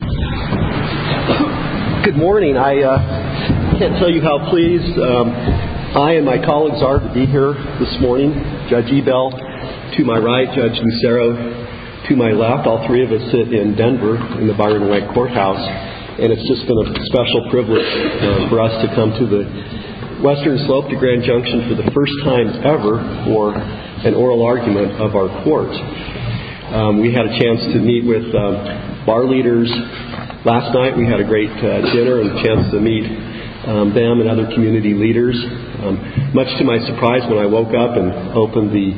Good morning. I can't tell you how pleased I and my colleagues are to be here this morning. Judge Ebell to my right, Judge Nucero to my left. All three of us sit in Denver in the Byron White Courthouse. And it's just been a special privilege for us to come to the Western Slope to Grand Junction for the first time ever for an oral argument of our court. We had a chance to meet with bar leaders last night. We had a great dinner and a chance to meet them and other community leaders. Much to my surprise, when I woke up and opened the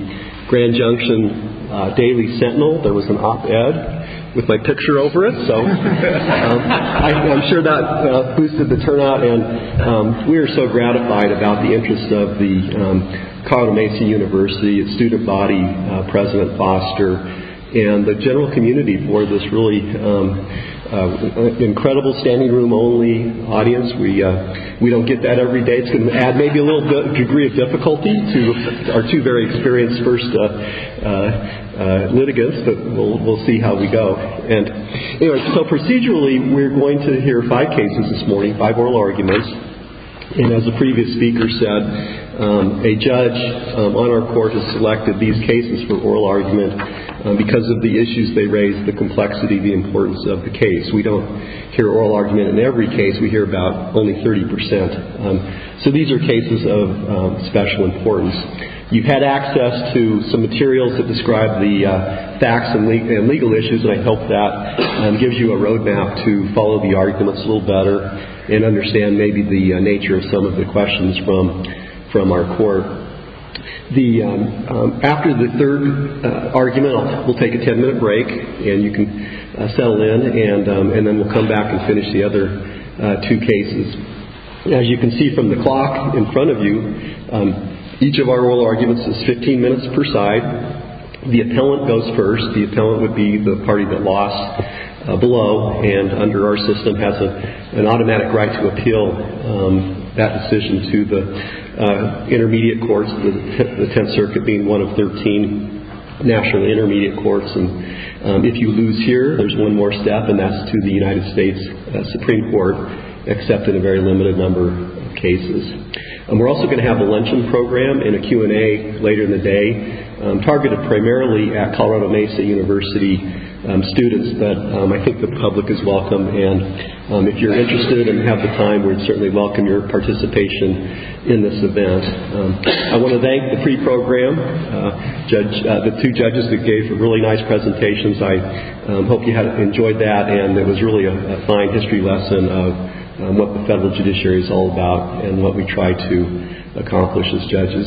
Grand Junction Daily Sentinel, there was an op-ed with my picture over it. I'm sure that boosted the turnout. We are so gratified about the interest of the Colorado Mesa University student body, President Foster, and the general community for this really incredible standing room only audience. We don't get that every day. It's going to add maybe a little degree of difficulty to our two very experienced first litigants, but we'll see how we go. So procedurally, we're going to hear five cases this morning, five oral arguments. And as the previous speaker said, a judge on our court has selected these cases for oral argument because of the issues they raise, the complexity, the importance of the case. We don't hear oral argument in every case. We hear about only 30 percent. So these are cases of special importance. You've had access to some materials that describe the facts and legal issues, and I hope that gives you a roadmap to follow the arguments a little better and understand maybe the nature of some of the questions from our court. After the third argument, we'll take a ten-minute break, and you can settle in, and then we'll come back and finish the other two cases. As you can see from the clock in front of you, each of our oral arguments is 15 minutes per side. The appellant goes first. The appellant would be the party that lost below and under our system has an automatic right to appeal that decision to the intermediate courts, the Tenth Circuit being one of 13 national intermediate courts. If you lose here, there's one more step, and that's to the United States Supreme Court, except in a very limited number of cases. We're also going to have a luncheon program and a Q&A later in the day, targeted primarily at Colorado Mesa University students. But I think the public is welcome, and if you're interested and have the time, we'd certainly welcome your participation in this event. I want to thank the free program, the two judges that gave really nice presentations. I hope you had enjoyed that, and it was really a fine history lesson of what the federal judiciary is all about and what we try to accomplish as judges.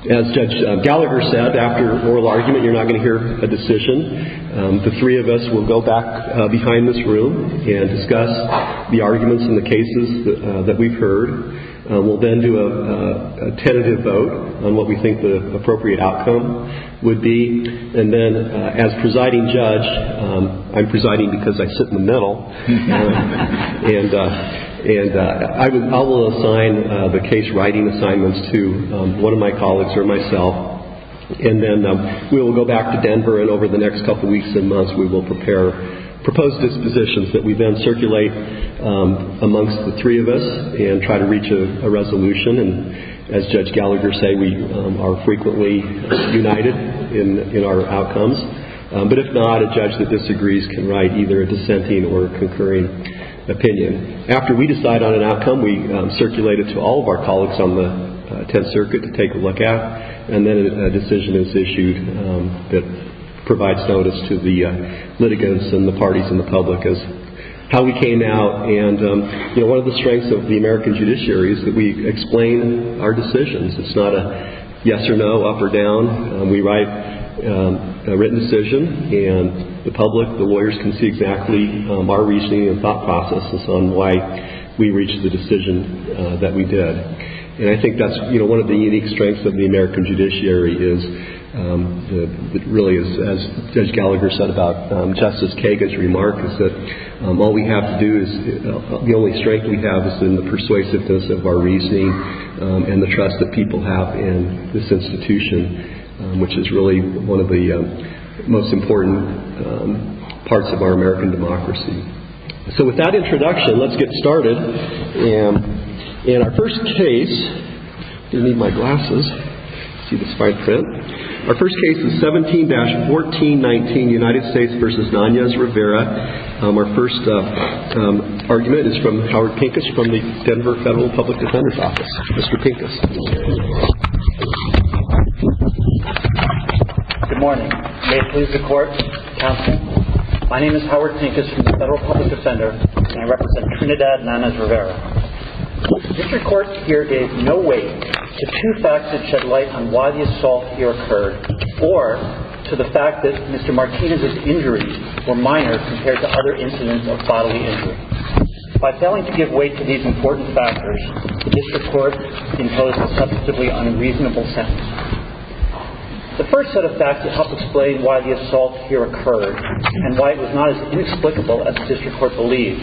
As Judge Gallagher said, after an oral argument, you're not going to hear a decision. The three of us will go back behind this room and discuss the arguments and the cases that we've heard. We'll then do a tentative vote on what we think the appropriate outcome would be. And then as presiding judge, I'm presiding because I sit in the middle, and I will assign the case-writing assignments to one of my colleagues or myself. And then we will go back to Denver, and over the next couple weeks and months, we will prepare proposed dispositions that we then circulate amongst the three of us and try to reach a resolution. And as Judge Gallagher said, we are frequently united in our outcomes. But if not, a judge that disagrees can write either a dissenting or a concurring opinion. After we decide on an outcome, we circulate it to all of our colleagues on the 10th Circuit to take a look at, and then a decision is issued that provides notice to the litigants and the parties and the public as to how we came out. One of the strengths of the American judiciary is that we explain our decisions. It's not a yes or no, up or down. We write a written decision, and the public, the lawyers, can see exactly our reasoning and thought processes on why we reached the decision that we did. And I think that's one of the unique strengths of the American judiciary is really, as Judge Gallagher said about Justice Kagan's remark, is that all we have to do is, the only strength we have is in the persuasiveness of our reasoning and the trust that people have in this institution, which is really one of the most important parts of our American democracy. So with that introduction, let's get started. In our first case, I'm going to need my glasses. I see this fine print. Our first case is 17-1419, United States v. Nanez Rivera. Our first argument is from Howard Pincus from the Denver Federal Public Defender's Office. Mr. Pincus. Good morning. May it please the Court. Counsel. My name is Howard Pincus from the Federal Public Defender, and I represent Trinidad and Nanez Rivera. The district court here gave no weight to two facts that shed light on why the assault here occurred or to the fact that Mr. Martinez's injuries were minor compared to other incidents of bodily injury. By failing to give weight to these important factors, the district court imposed a substantively unreasonable sentence. The first set of facts that help explain why the assault here occurred and why it was not as inexplicable as the district court believed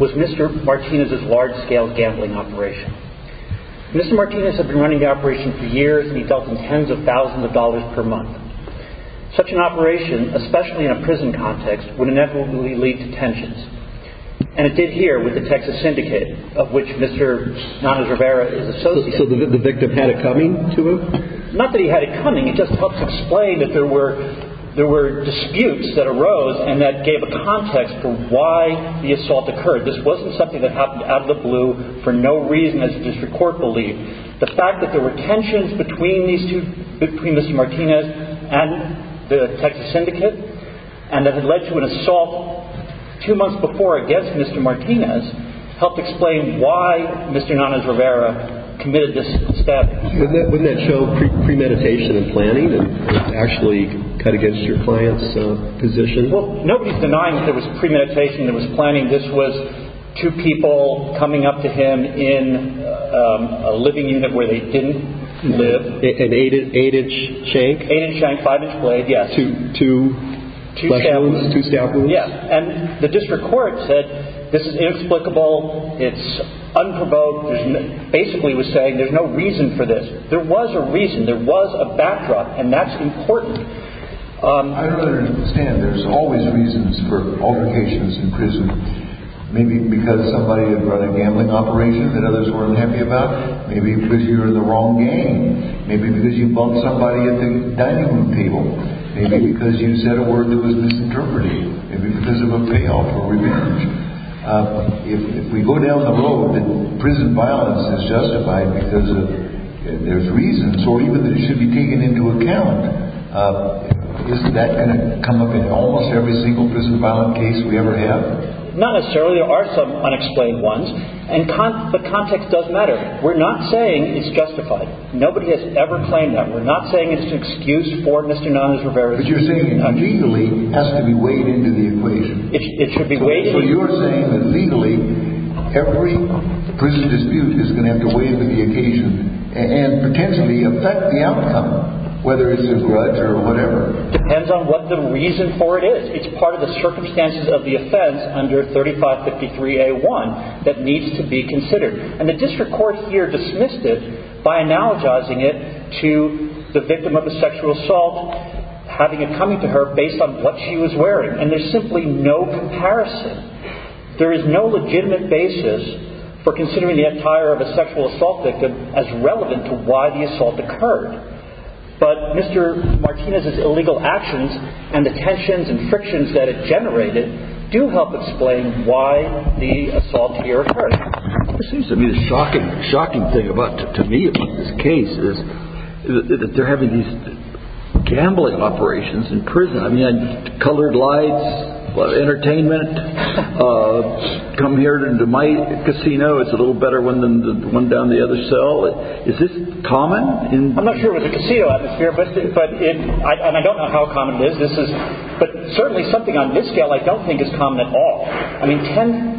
was Mr. Martinez's large-scale gambling operation. Mr. Martinez had been running the operation for years, and he dealt in tens of thousands of dollars per month. Such an operation, especially in a prison context, would inevitably lead to tensions, and it did here with the Texas Syndicate, of which Mr. Nanez Rivera is associated. So the victim had it coming to him? Not that he had it coming. It just helps explain that there were disputes that arose and that gave a context for why the assault occurred. This wasn't something that happened out of the blue for no reason, as the district court believed. The fact that there were tensions between Mr. Martinez and the Texas Syndicate and that it led to an assault two months before against Mr. Martinez helped explain why Mr. Nanez Rivera committed this stabbing. Wouldn't that show premeditation and planning and actually cut against your client's position? Well, nobody's denying that there was premeditation and there was planning. This was two people coming up to him in a living unit where they didn't live. An eight-inch shank? Eight-inch shank, five-inch blade, yes. Two staff rooms? Yes, and the district court said this is inexplicable, it's unprovoked. It basically was saying there's no reason for this. There was a reason. There was a backdrop, and that's important. I don't understand. There's always reasons for altercations in prison. Maybe because somebody had run a gambling operation that others weren't happy about. Maybe because you were in the wrong game. Maybe because you bumped somebody at the dining room table. Maybe because you said a word that was misinterpreted. Maybe because of a payoff or revenge. If we go down the road that prison violence is justified because there's reasons, or even that it should be taken into account, isn't that going to come up in almost every single prison violence case we ever have? Not necessarily. There are some unexplained ones, and the context does matter. We're not saying it's justified. Nobody has ever claimed that. We're not saying it's an excuse for Mr. Nunes-Rivera. But you're saying it legally has to be weighed into the equation. It should be weighed into the equation. So you're saying that legally every prison dispute is going to have to weigh into the equation and potentially affect the outcome, whether it's a grudge or whatever. Depends on what the reason for it is. It's part of the circumstances of the offense under 3553A1 that needs to be considered. And the district court here dismissed it by analogizing it to the victim of a sexual assault having it come to her based on what she was wearing. And there's simply no comparison. There is no legitimate basis for considering the attire of a sexual assault victim as relevant to why the assault occurred. But Mr. Martinez's illegal actions and the tensions and frictions that it generated do help explain why the assault here occurred. It seems to me the shocking thing to me about this case is that they're having these gambling operations in prison. I mean, colored lights, a lot of entertainment. Come here to my casino, it's a little better one than the one down the other cell. Is this common? I'm not sure it was a casino atmosphere, and I don't know how common it is. But certainly something on this scale I don't think is common at all. I mean,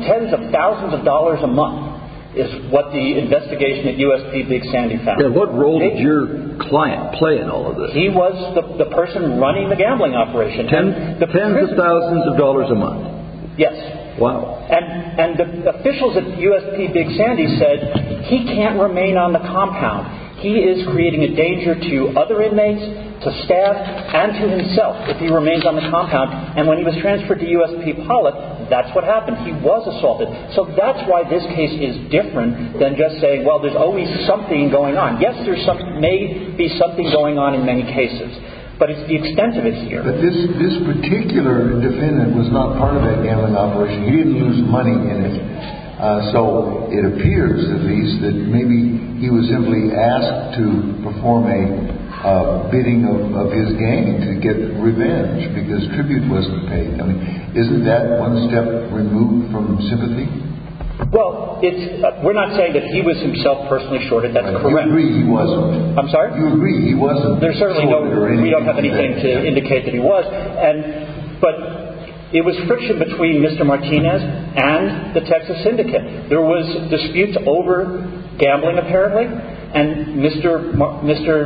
tens of thousands of dollars a month is what the investigation at USP Big Sandy found. What role did your client play in all of this? He was the person running the gambling operation. Tens of thousands of dollars a month? Yes. Wow. And the officials at USP Big Sandy said he can't remain on the compound. He is creating a danger to other inmates, to staff, and to himself if he remains on the compound. And when he was transferred to USP Pollock, that's what happened. He was assaulted. So that's why this case is different than just saying, well, there's always something going on. Yes, there may be something going on in many cases, but the extent of it is here. But this particular defendant was not part of that gambling operation. He didn't lose money in it. So it appears, at least, that maybe he was simply asked to perform a bidding of his game to get revenge because tribute wasn't paid. I mean, isn't that one step removed from sympathy? Well, we're not saying that he was himself personally shorted. That's correct. You agree he wasn't. You agree he wasn't shorted or anything like that. We don't have anything to indicate that he was. But it was friction between Mr. Martinez and the Texas syndicate. There was disputes over gambling, apparently, and Mr.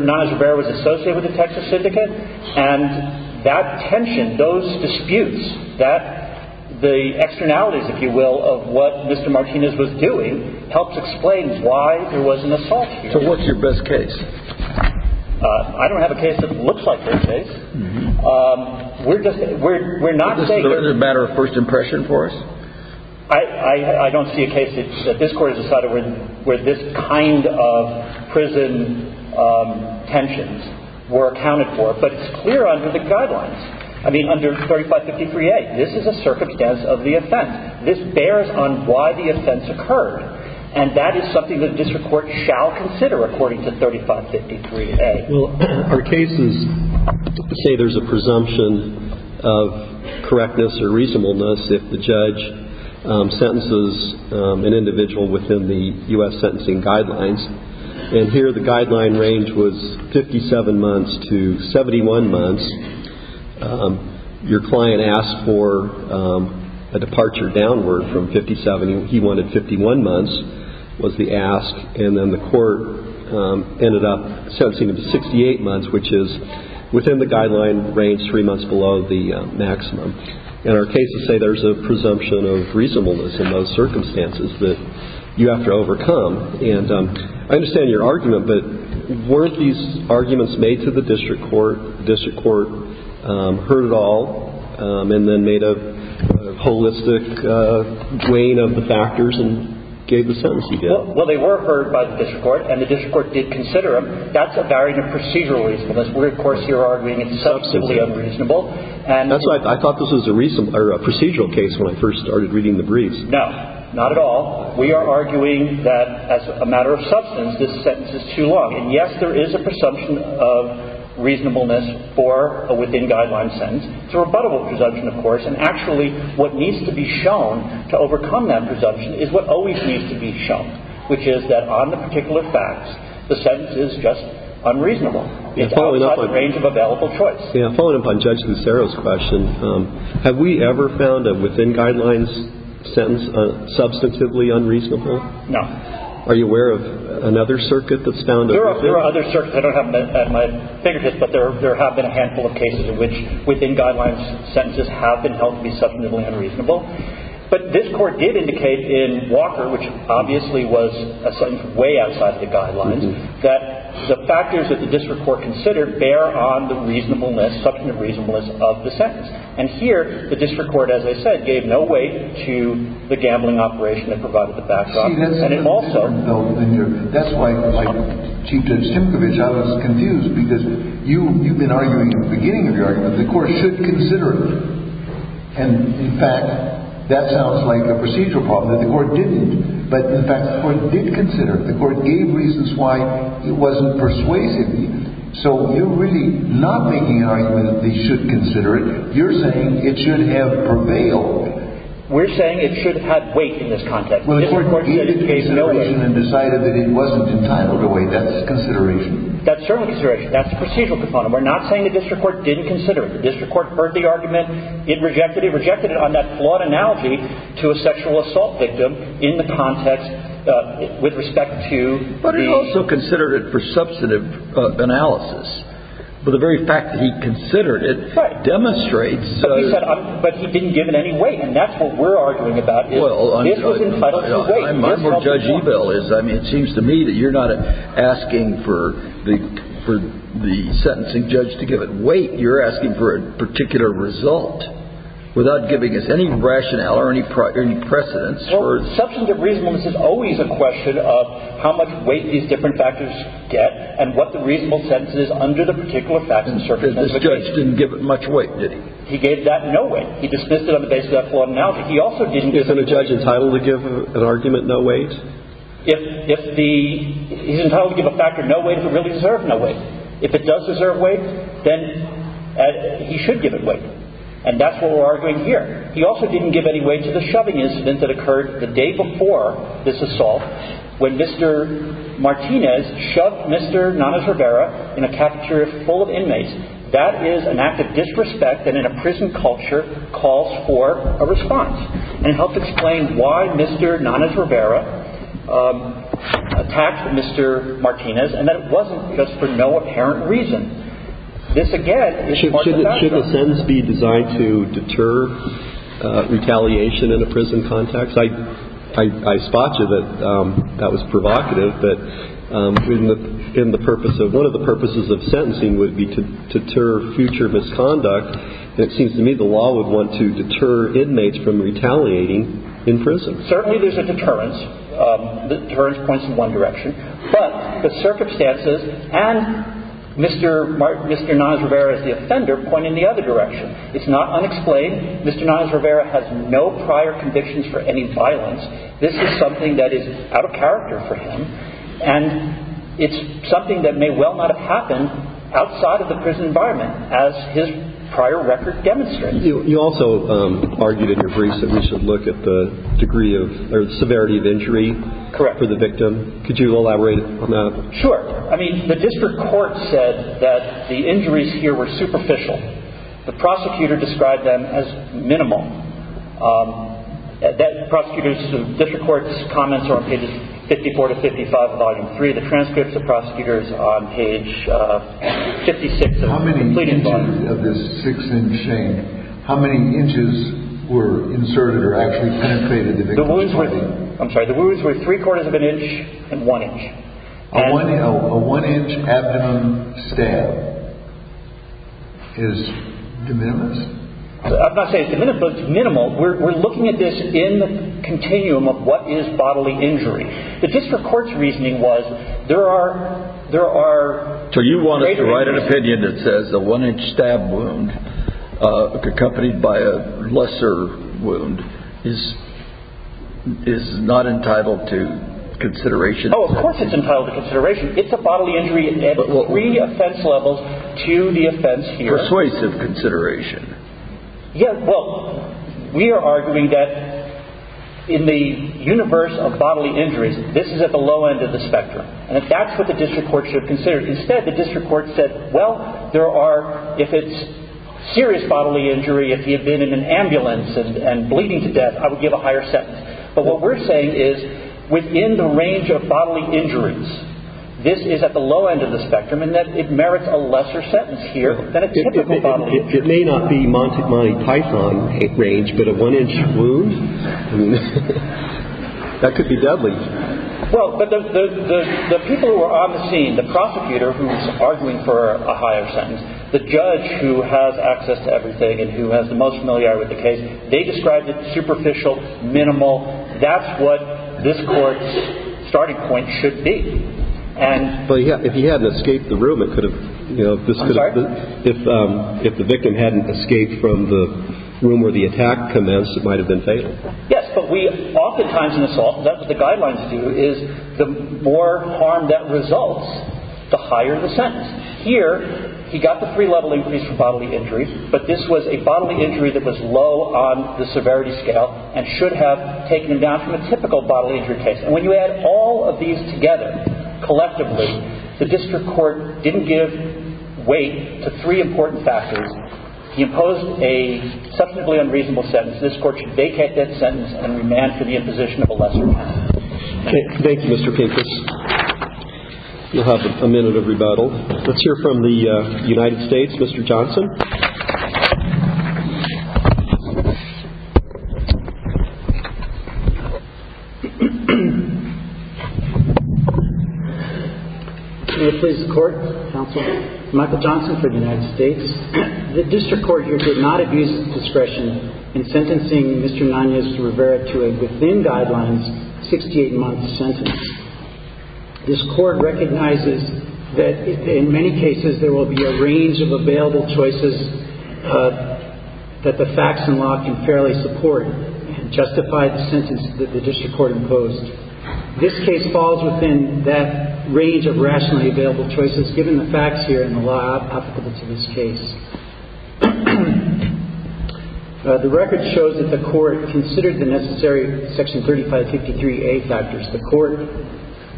Niles Rivera was associated with the Texas syndicate. And that tension, those disputes, the externalities, if you will, of what Mr. Martinez was doing helps explain why there was an assault here. So what's your best case? I don't have a case that looks like their case. We're not saying that. Is this a matter of first impression for us? I don't see a case that this Court has decided where this kind of prison tensions were accounted for. But it's clear under the guidelines. I mean, under 3553A, this is a circumstance of the offense. This bears on why the offense occurred. And that is something the district court shall consider according to 3553A. Well, our cases say there's a presumption of correctness or reasonableness if the judge sentences an individual within the U.S. sentencing guidelines. And here the guideline range was 57 months to 71 months. Your client asked for a departure downward from 57. He wanted 51 months was the ask. And then the court ended up sentencing him to 68 months, which is within the guideline range, three months below the maximum. And our cases say there's a presumption of reasonableness in those circumstances that you have to overcome. And I understand your argument, but weren't these arguments made to the district court? The district court heard it all and then made a holistic weighing of the factors and gave the sentencing bill? Well, they were heard by the district court, and the district court did consider them. That's a variant of procedural reasonableness where, of course, you're arguing it's substantively unreasonable. I thought this was a procedural case when I first started reading the briefs. No, not at all. We are arguing that as a matter of substance, this sentence is too long. And, yes, there is a presumption of reasonableness for a within-guideline sentence. It's a rebuttable presumption, of course. And, actually, what needs to be shown to overcome that presumption is what always needs to be shown, which is that on the particular facts, the sentence is just unreasonable. It's outside the range of available choice. Following up on Judge Cancero's question, have we ever found a within-guidelines sentence substantively unreasonable? No. Are you aware of another circuit that's found? There are other circuits. I don't have them at my fingertips, but there have been a handful of cases in which within-guidelines sentences have been held to be substantively unreasonable. But this Court did indicate in Walker, which obviously was a sentence way outside the guidelines, that the factors that the district court considered bear on the reasonableness, substantive reasonableness of the sentence. And here the district court, as I said, gave no weight to the gambling operation that provided the backdrop. Well, see, that's an important point, though. And that's why, Chief Judge Timkovich, I was confused, because you've been arguing at the beginning of your argument that the Court should consider it. And, in fact, that sounds like a procedural problem, that the Court didn't. But, in fact, the Court did consider it. The Court gave reasons why it wasn't persuasive. So you're really not making an argument that they should consider it. You're saying it should have prevailed. We're saying it should have weight in this context. Well, the Court did give consideration and decided that it wasn't entitled to weight. That's consideration. That's certainly consideration. That's the procedural component. We're not saying the district court didn't consider it. The district court heard the argument. It rejected it. It rejected it on that flawed analogy to a sexual assault victim in the context with respect to the- But it also considered it for substantive analysis. The very fact that he considered it demonstrates- But he didn't give it any weight. And that's what we're arguing about. Well, I mean- This was entitled to weight. I mean, it seems to me that you're not asking for the sentencing judge to give it weight. You're asking for a particular result without giving us any rationale or any precedence. Well, substantive reasonableness is always a question of how much weight these different factors get and what the reasonable sentence is under the particular facts and circumstances. This judge didn't give it much weight, did he? He gave that no weight. He dismissed it on the basis of that flawed analogy. But he also didn't- Isn't a judge entitled to give an argument no weight? He's entitled to give a factor no weight if it really deserves no weight. If it does deserve weight, then he should give it weight. And that's what we're arguing here. He also didn't give any weight to the shoving incident that occurred the day before this assault when Mr. Martinez shoved Mr. Nanez Rivera in a cafeteria full of inmates. That is an act of disrespect that in a prison culture calls for a response. And it helps explain why Mr. Nanez Rivera attacked Mr. Martinez and that it wasn't just for no apparent reason. This, again, is part of the factor. Should a sentence be designed to deter retaliation in a prison context? I spot you that that was provocative. One of the purposes of sentencing would be to deter future misconduct. And it seems to me the law would want to deter inmates from retaliating in prison. Certainly there's a deterrence. The deterrence points in one direction. But the circumstances and Mr. Nanez Rivera as the offender point in the other direction. It's not unexplained. Mr. Nanez Rivera has no prior convictions for any violence. This is something that is out of character for him. And it's something that may well not have happened outside of the prison environment as his prior record demonstrates. You also argued in your briefs that we should look at the severity of injury for the victim. Could you elaborate on that? Sure. The district court said that the injuries here were superficial. The prosecutor described them as minimal. The prosecutor's district court's comments are on pages 54 to 55 of volume 3. The transcripts of the prosecutor's on page 56. How many inches of this six-inch shank, how many inches were inserted or actually penetrated the victim's body? I'm sorry. The wounds were three-quarters of an inch and one inch. A one-inch abdomen stab is de minimis? I'm not saying it's de minimis, but it's minimal. We're looking at this in the continuum of what is bodily injury. The district court's reasoning was there are greater injuries. So you wanted to write an opinion that says a one-inch stab wound accompanied by a lesser wound is not entitled to consideration? Oh, of course it's entitled to consideration. It's a bodily injury at three offense levels to the offense here. Yeah, well, we are arguing that in the universe of bodily injuries, this is at the low end of the spectrum, and that's what the district court should have considered. Instead, the district court said, well, there are, if it's serious bodily injury, if he had been in an ambulance and bleeding to death, I would give a higher sentence. But what we're saying is within the range of bodily injuries, this is at the low end of the spectrum and that it merits a lesser sentence here than a typical bodily injury. It may not be Monty Python range, but a one-inch wound? I mean, that could be deadly. Well, but the people who are on the scene, the prosecutor who's arguing for a higher sentence, the judge who has access to everything and who has the most familiarity with the case, they described it as superficial, minimal. That's what this court's starting point should be. But if he hadn't escaped the room, it could have, you know, if the victim hadn't escaped from the room where the attack commenced, it might have been fatal. Yes, but we oftentimes in assault, that's what the guidelines do is the more harm that results, the higher the sentence. Here, he got the three-level increase for bodily injuries, but this was a bodily injury that was low on the severity scale and should have taken him down from a typical bodily injury case. And when you add all of these together collectively, the district court didn't give weight to three important factors. He imposed a substantively unreasonable sentence. This court should vacate that sentence and remand for the imposition of a lesser sentence. Thank you, Mr. Pincus. We'll have a minute of rebuttal. Let's hear from the United States, Mr. Johnson. May it please the Court, Counsel? Michael Johnson for the United States. The district court here did not abuse discretion in sentencing Mr. Nanez Rivera to a within guidelines 68-month sentence. This court recognizes that in many cases there will be a range of available choices that the facts and law can fairly support and justify the sentence that the district court imposed. This case falls within that range of rationally available choices, given the facts here and the law applicable to this case. The record shows that the court considered the necessary Section 3553A factors. The court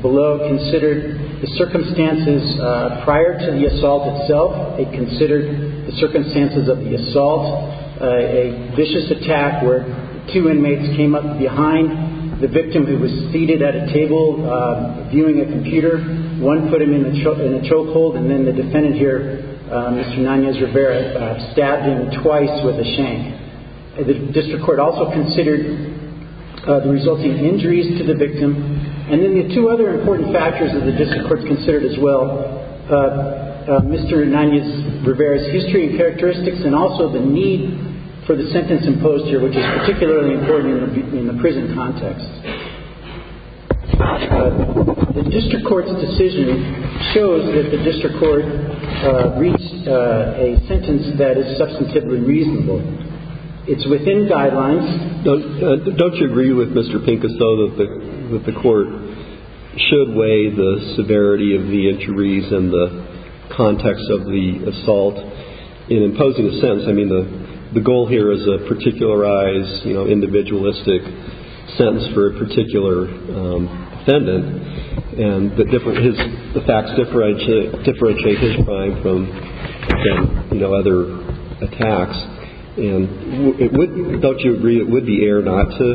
below considered the circumstances prior to the assault itself. It considered the circumstances of the assault, a vicious attack where two inmates came up behind the victim who was seated at a table viewing a computer. One put him in a chokehold and then the defendant here, Mr. Nanez Rivera, stabbed him twice with a shank. The district court also considered the resulting injuries to the victim. And then the two other important factors that the district court considered as well, Mr. Nanez Rivera's history and characteristics and also the need for the sentence imposed here, which is particularly important in the prison context. The district court's decision shows that the district court reached a sentence that is substantively reasonable. It's within guidelines. Don't you agree with Mr. Pincus, though, that the court should weigh the severity of the injuries and the context of the assault in imposing a sentence? I mean, the goal here is a particularized, you know, individualistic sentence for a particular defendant. And the facts differentiate his crime from, you know, other attacks. And don't you agree it would be error not to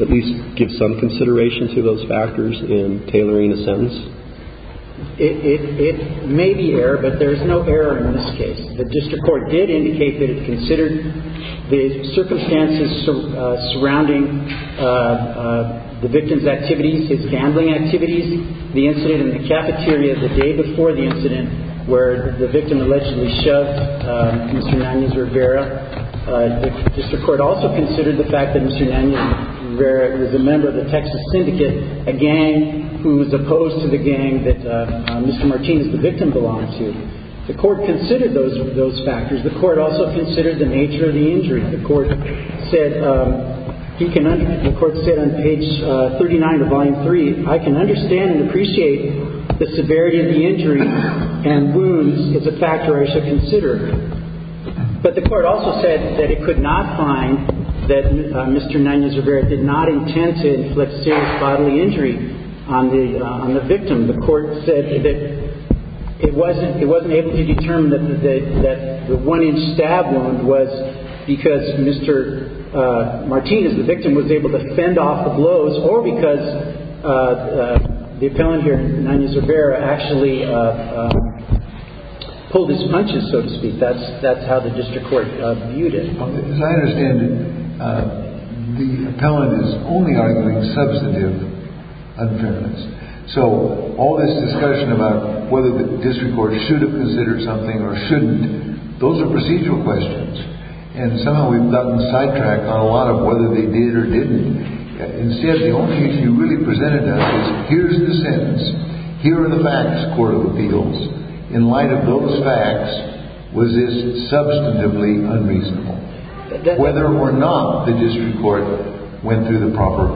at least give some consideration to those factors in tailoring a sentence? It may be error, but there is no error in this case. The district court did indicate that it considered the circumstances surrounding the victim's activities, his gambling activities, the incident in the cafeteria the day before the incident where the victim allegedly shoved Mr. Nanez Rivera. The district court also considered the fact that Mr. Nanez Rivera was a member of the Texas Syndicate, a gang who was opposed to the gang that Mr. Martinez, the victim, belonged to. The court considered those factors. The court also considered the nature of the injury. The court said on page 39 of Volume 3, I can understand and appreciate the severity of the injury and wounds is a factor I should consider. But the court also said that it could not find that Mr. Nanez Rivera did not intend to inflict serious bodily injury on the victim. The court said that it wasn't able to determine that the one-inch stab wound was because Mr. Martinez, the victim, was able to fend off the blows or because the appellant here, Nanez Rivera, actually pulled his punches, so to speak. That's how the district court viewed it. As I understand it, the appellant is only arguing substantive unfairness. So all this discussion about whether the district court should have considered something or shouldn't, those are procedural questions, and somehow we've gotten sidetracked on a lot of whether they did or didn't. Instead, the only issue really presented to us is here's the sentence. Here are the facts, court of appeals. In light of those facts, was this substantively unreasonable, whether or not the district court went through the proper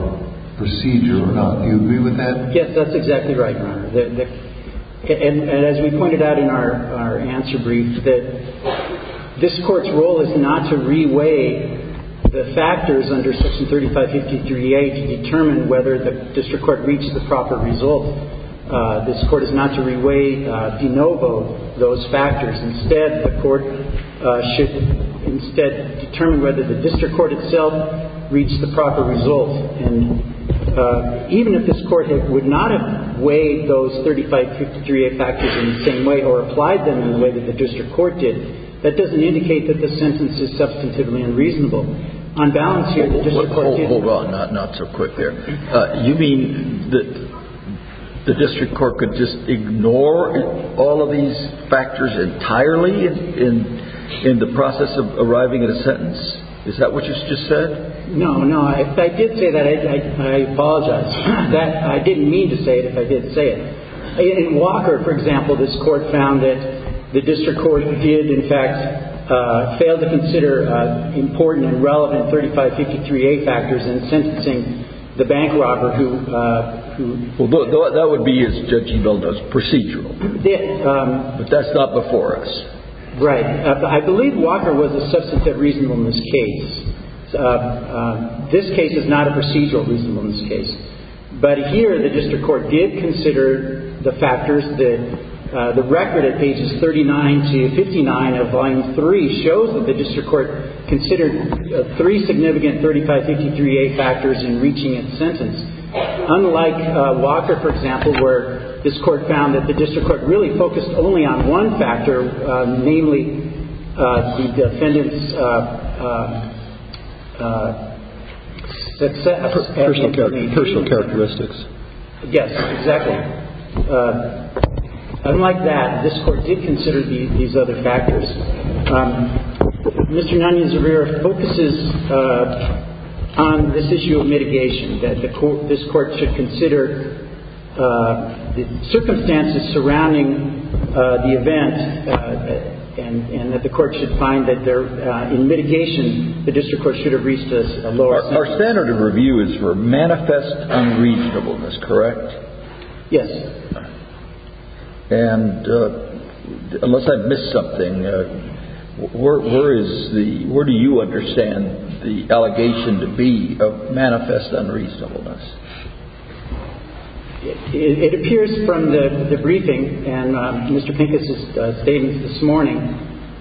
procedure or not. Do you agree with that? Yes, that's exactly right, Your Honor. And as we pointed out in our answer brief, that this Court's role is not to reweigh the factors under Section 3553A to determine whether the district court reached the proper result. This Court is not to reweigh, de novo, those factors. Instead, the Court should instead determine whether the district court itself reached the proper result. And even if this Court would not have weighed those 3553A factors in the same way or applied them in the way that the district court did, that doesn't indicate that this sentence is substantively unreasonable. On balance here, the district court did. Hold on. Not so quick there. You mean that the district court could just ignore all of these factors entirely in the process of arriving at a sentence? Is that what you just said? No, no. I did say that. I apologize. I didn't mean to say it, but I did say it. In Walker, for example, this Court found that the district court did, in fact, fail to consider important and relevant 3553A factors in sentencing the bank robber who did not meet the requirements. Well, that would be, as Judge Ebel does, procedural. Yes. But that's not before us. Right. I believe Walker was a substantive reasonableness case. This case is not a procedural reasonableness case. But here the district court did consider the factors that the record at pages 39 to 59 of Volume 3 shows that the district court considered three significant 3553A factors in reaching its sentence. Unlike Walker, for example, where this Court found that the district court really success at meeting the need. Personal characteristics. Yes. Exactly. Unlike that, this Court did consider these other factors. Mr. Nanyan-Zarrera focuses on this issue of mitigation, that this Court should consider the circumstances surrounding the event and that the Court should find that in mitigation, the district court should have reached a lower sentence. Our standard of review is for manifest unreasonableness, correct? Yes. And unless I've missed something, where do you understand the allegation to be of manifest unreasonableness? It appears from the briefing, and Mr. Pincus has stated this morning,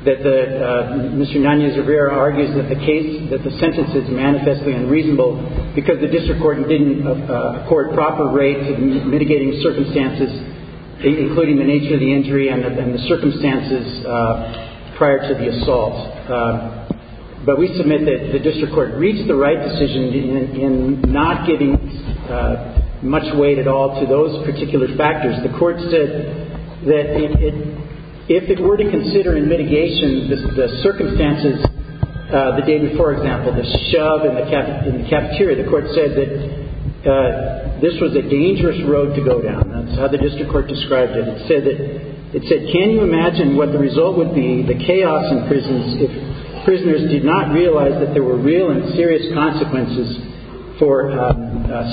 that Mr. Nanyan-Zarrera argues that the case, that the sentence is manifestly unreasonable because the district court didn't accord proper rates in mitigating circumstances, including the nature of the injury and the circumstances prior to the assault. But we submit that the district court reached the right decision in not giving much weight at all to those particular factors. The Court said that if it were to consider in mitigation the circumstances, the day before, for example, the shove in the cafeteria, the Court said that this was a dangerous road to go down. That's how the district court described it. It said, can you imagine what the result would be, the chaos in prisons, if prisoners did not realize that there were real and serious consequences for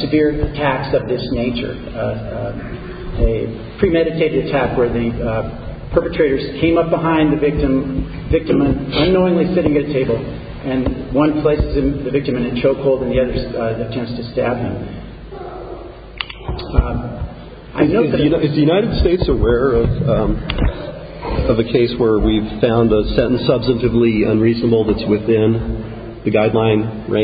severe attacks of this nature? And the Court said that the district court said that the district court did not realize that the.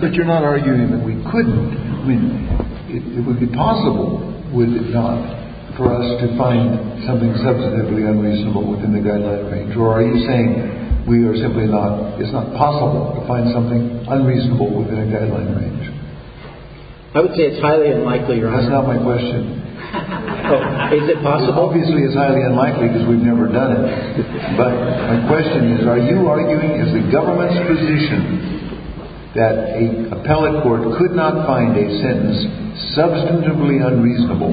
But you're not arguing that we couldn't, it would be possible, would it not, for us to find something substantively unreasonable within the guideline range? Or are you saying we are simply not, it's not possible to find something unreasonable within a guideline range? I would say it's highly unlikely, Your Honor. That's not my question. Is it possible? Obviously, it's highly unlikely because we've never done it. But my question is, are you arguing, as the government's position, that an appellate court could not find a sentence substantively unreasonable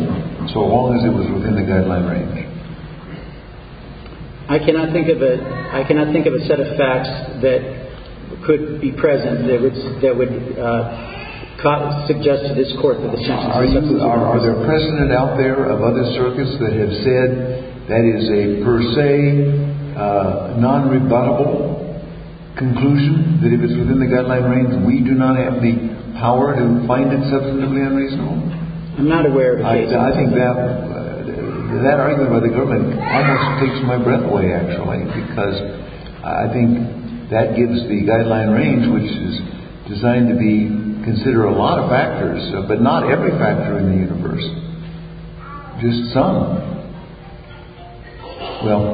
so long as it was within the guideline range? I cannot think of a set of facts that could be present that would suggest to this court that the sentence is substantively unreasonable. Are there precedent out there of other circuits that have said that is a per se non-rebuttable conclusion, that if it's within the guideline range, we do not have the power to find it substantively unreasonable? I'm not aware of cases like that. I think that argument by the government almost takes my breath away, actually, because I think that gives the guideline range, which is designed to consider a lot of factors, but not every factor in the universe, just some. Well,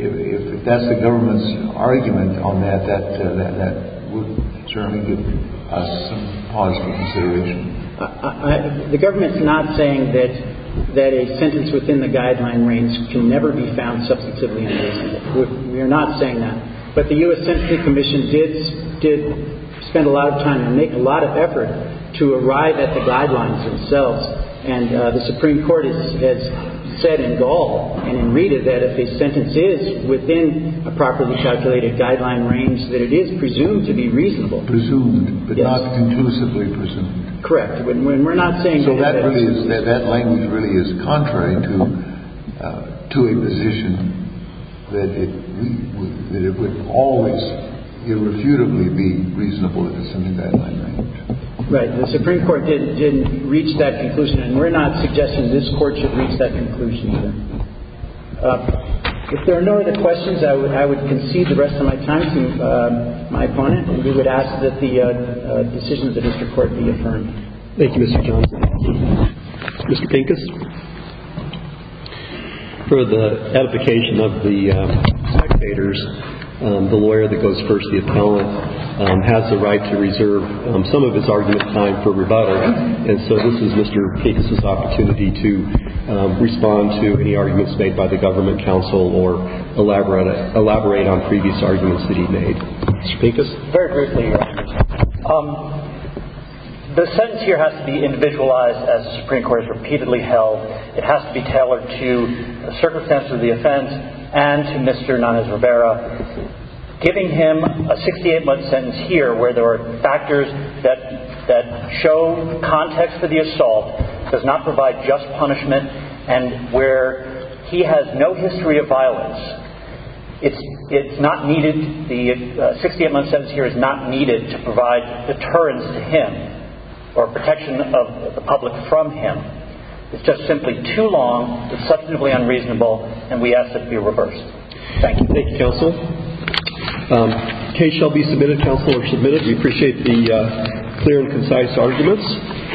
if that's the government's argument on that, that would certainly give us some positive consideration. The government's not saying that a sentence within the guideline range can never be found substantively unreasonable. We're not saying that. But the U.S. Sentencing Commission did spend a lot of time and make a lot of effort to arrive at the guidelines themselves. And the Supreme Court has said in Gall and in Rita that if a sentence is within a properly calculated guideline range, that it is presumed to be reasonable. Presumed, but not conclusively presumed. Correct. And we're not saying that. That language really is contrary to a position that it would always irrefutably be reasonable if it's in the guideline range. Right. The Supreme Court didn't reach that conclusion. And we're not suggesting this Court should reach that conclusion either. If there are no other questions, I would concede the rest of my time to my opponent, and we would ask that the decision of the district court be affirmed. Thank you, Mr. Johnson. Mr. Pincus? For the edification of the spectators, the lawyer that goes first, the appellant, has the right to reserve some of his argument time for rebuttal. And so this is Mr. Pincus' opportunity to respond to any arguments made by the government counsel or elaborate on previous arguments that he made. Mr. Pincus? Very briefly, Your Honor. The sentence here has to be individualized, as the Supreme Court has repeatedly held. It has to be tailored to the circumstances of the offense and to Mr. Nanez Rivera. Giving him a 68-month sentence here, where there are factors that show context for the assault, does not provide just punishment, and where he has no history of violence, the 68-month sentence here is not needed to provide deterrence to him or protection of the public from him. It's just simply too long, it's substantively unreasonable, and we ask that it be reversed. Thank you. Thank you, counsel. The case shall be submitted, counsel are submitted. We appreciate the clear and concise arguments.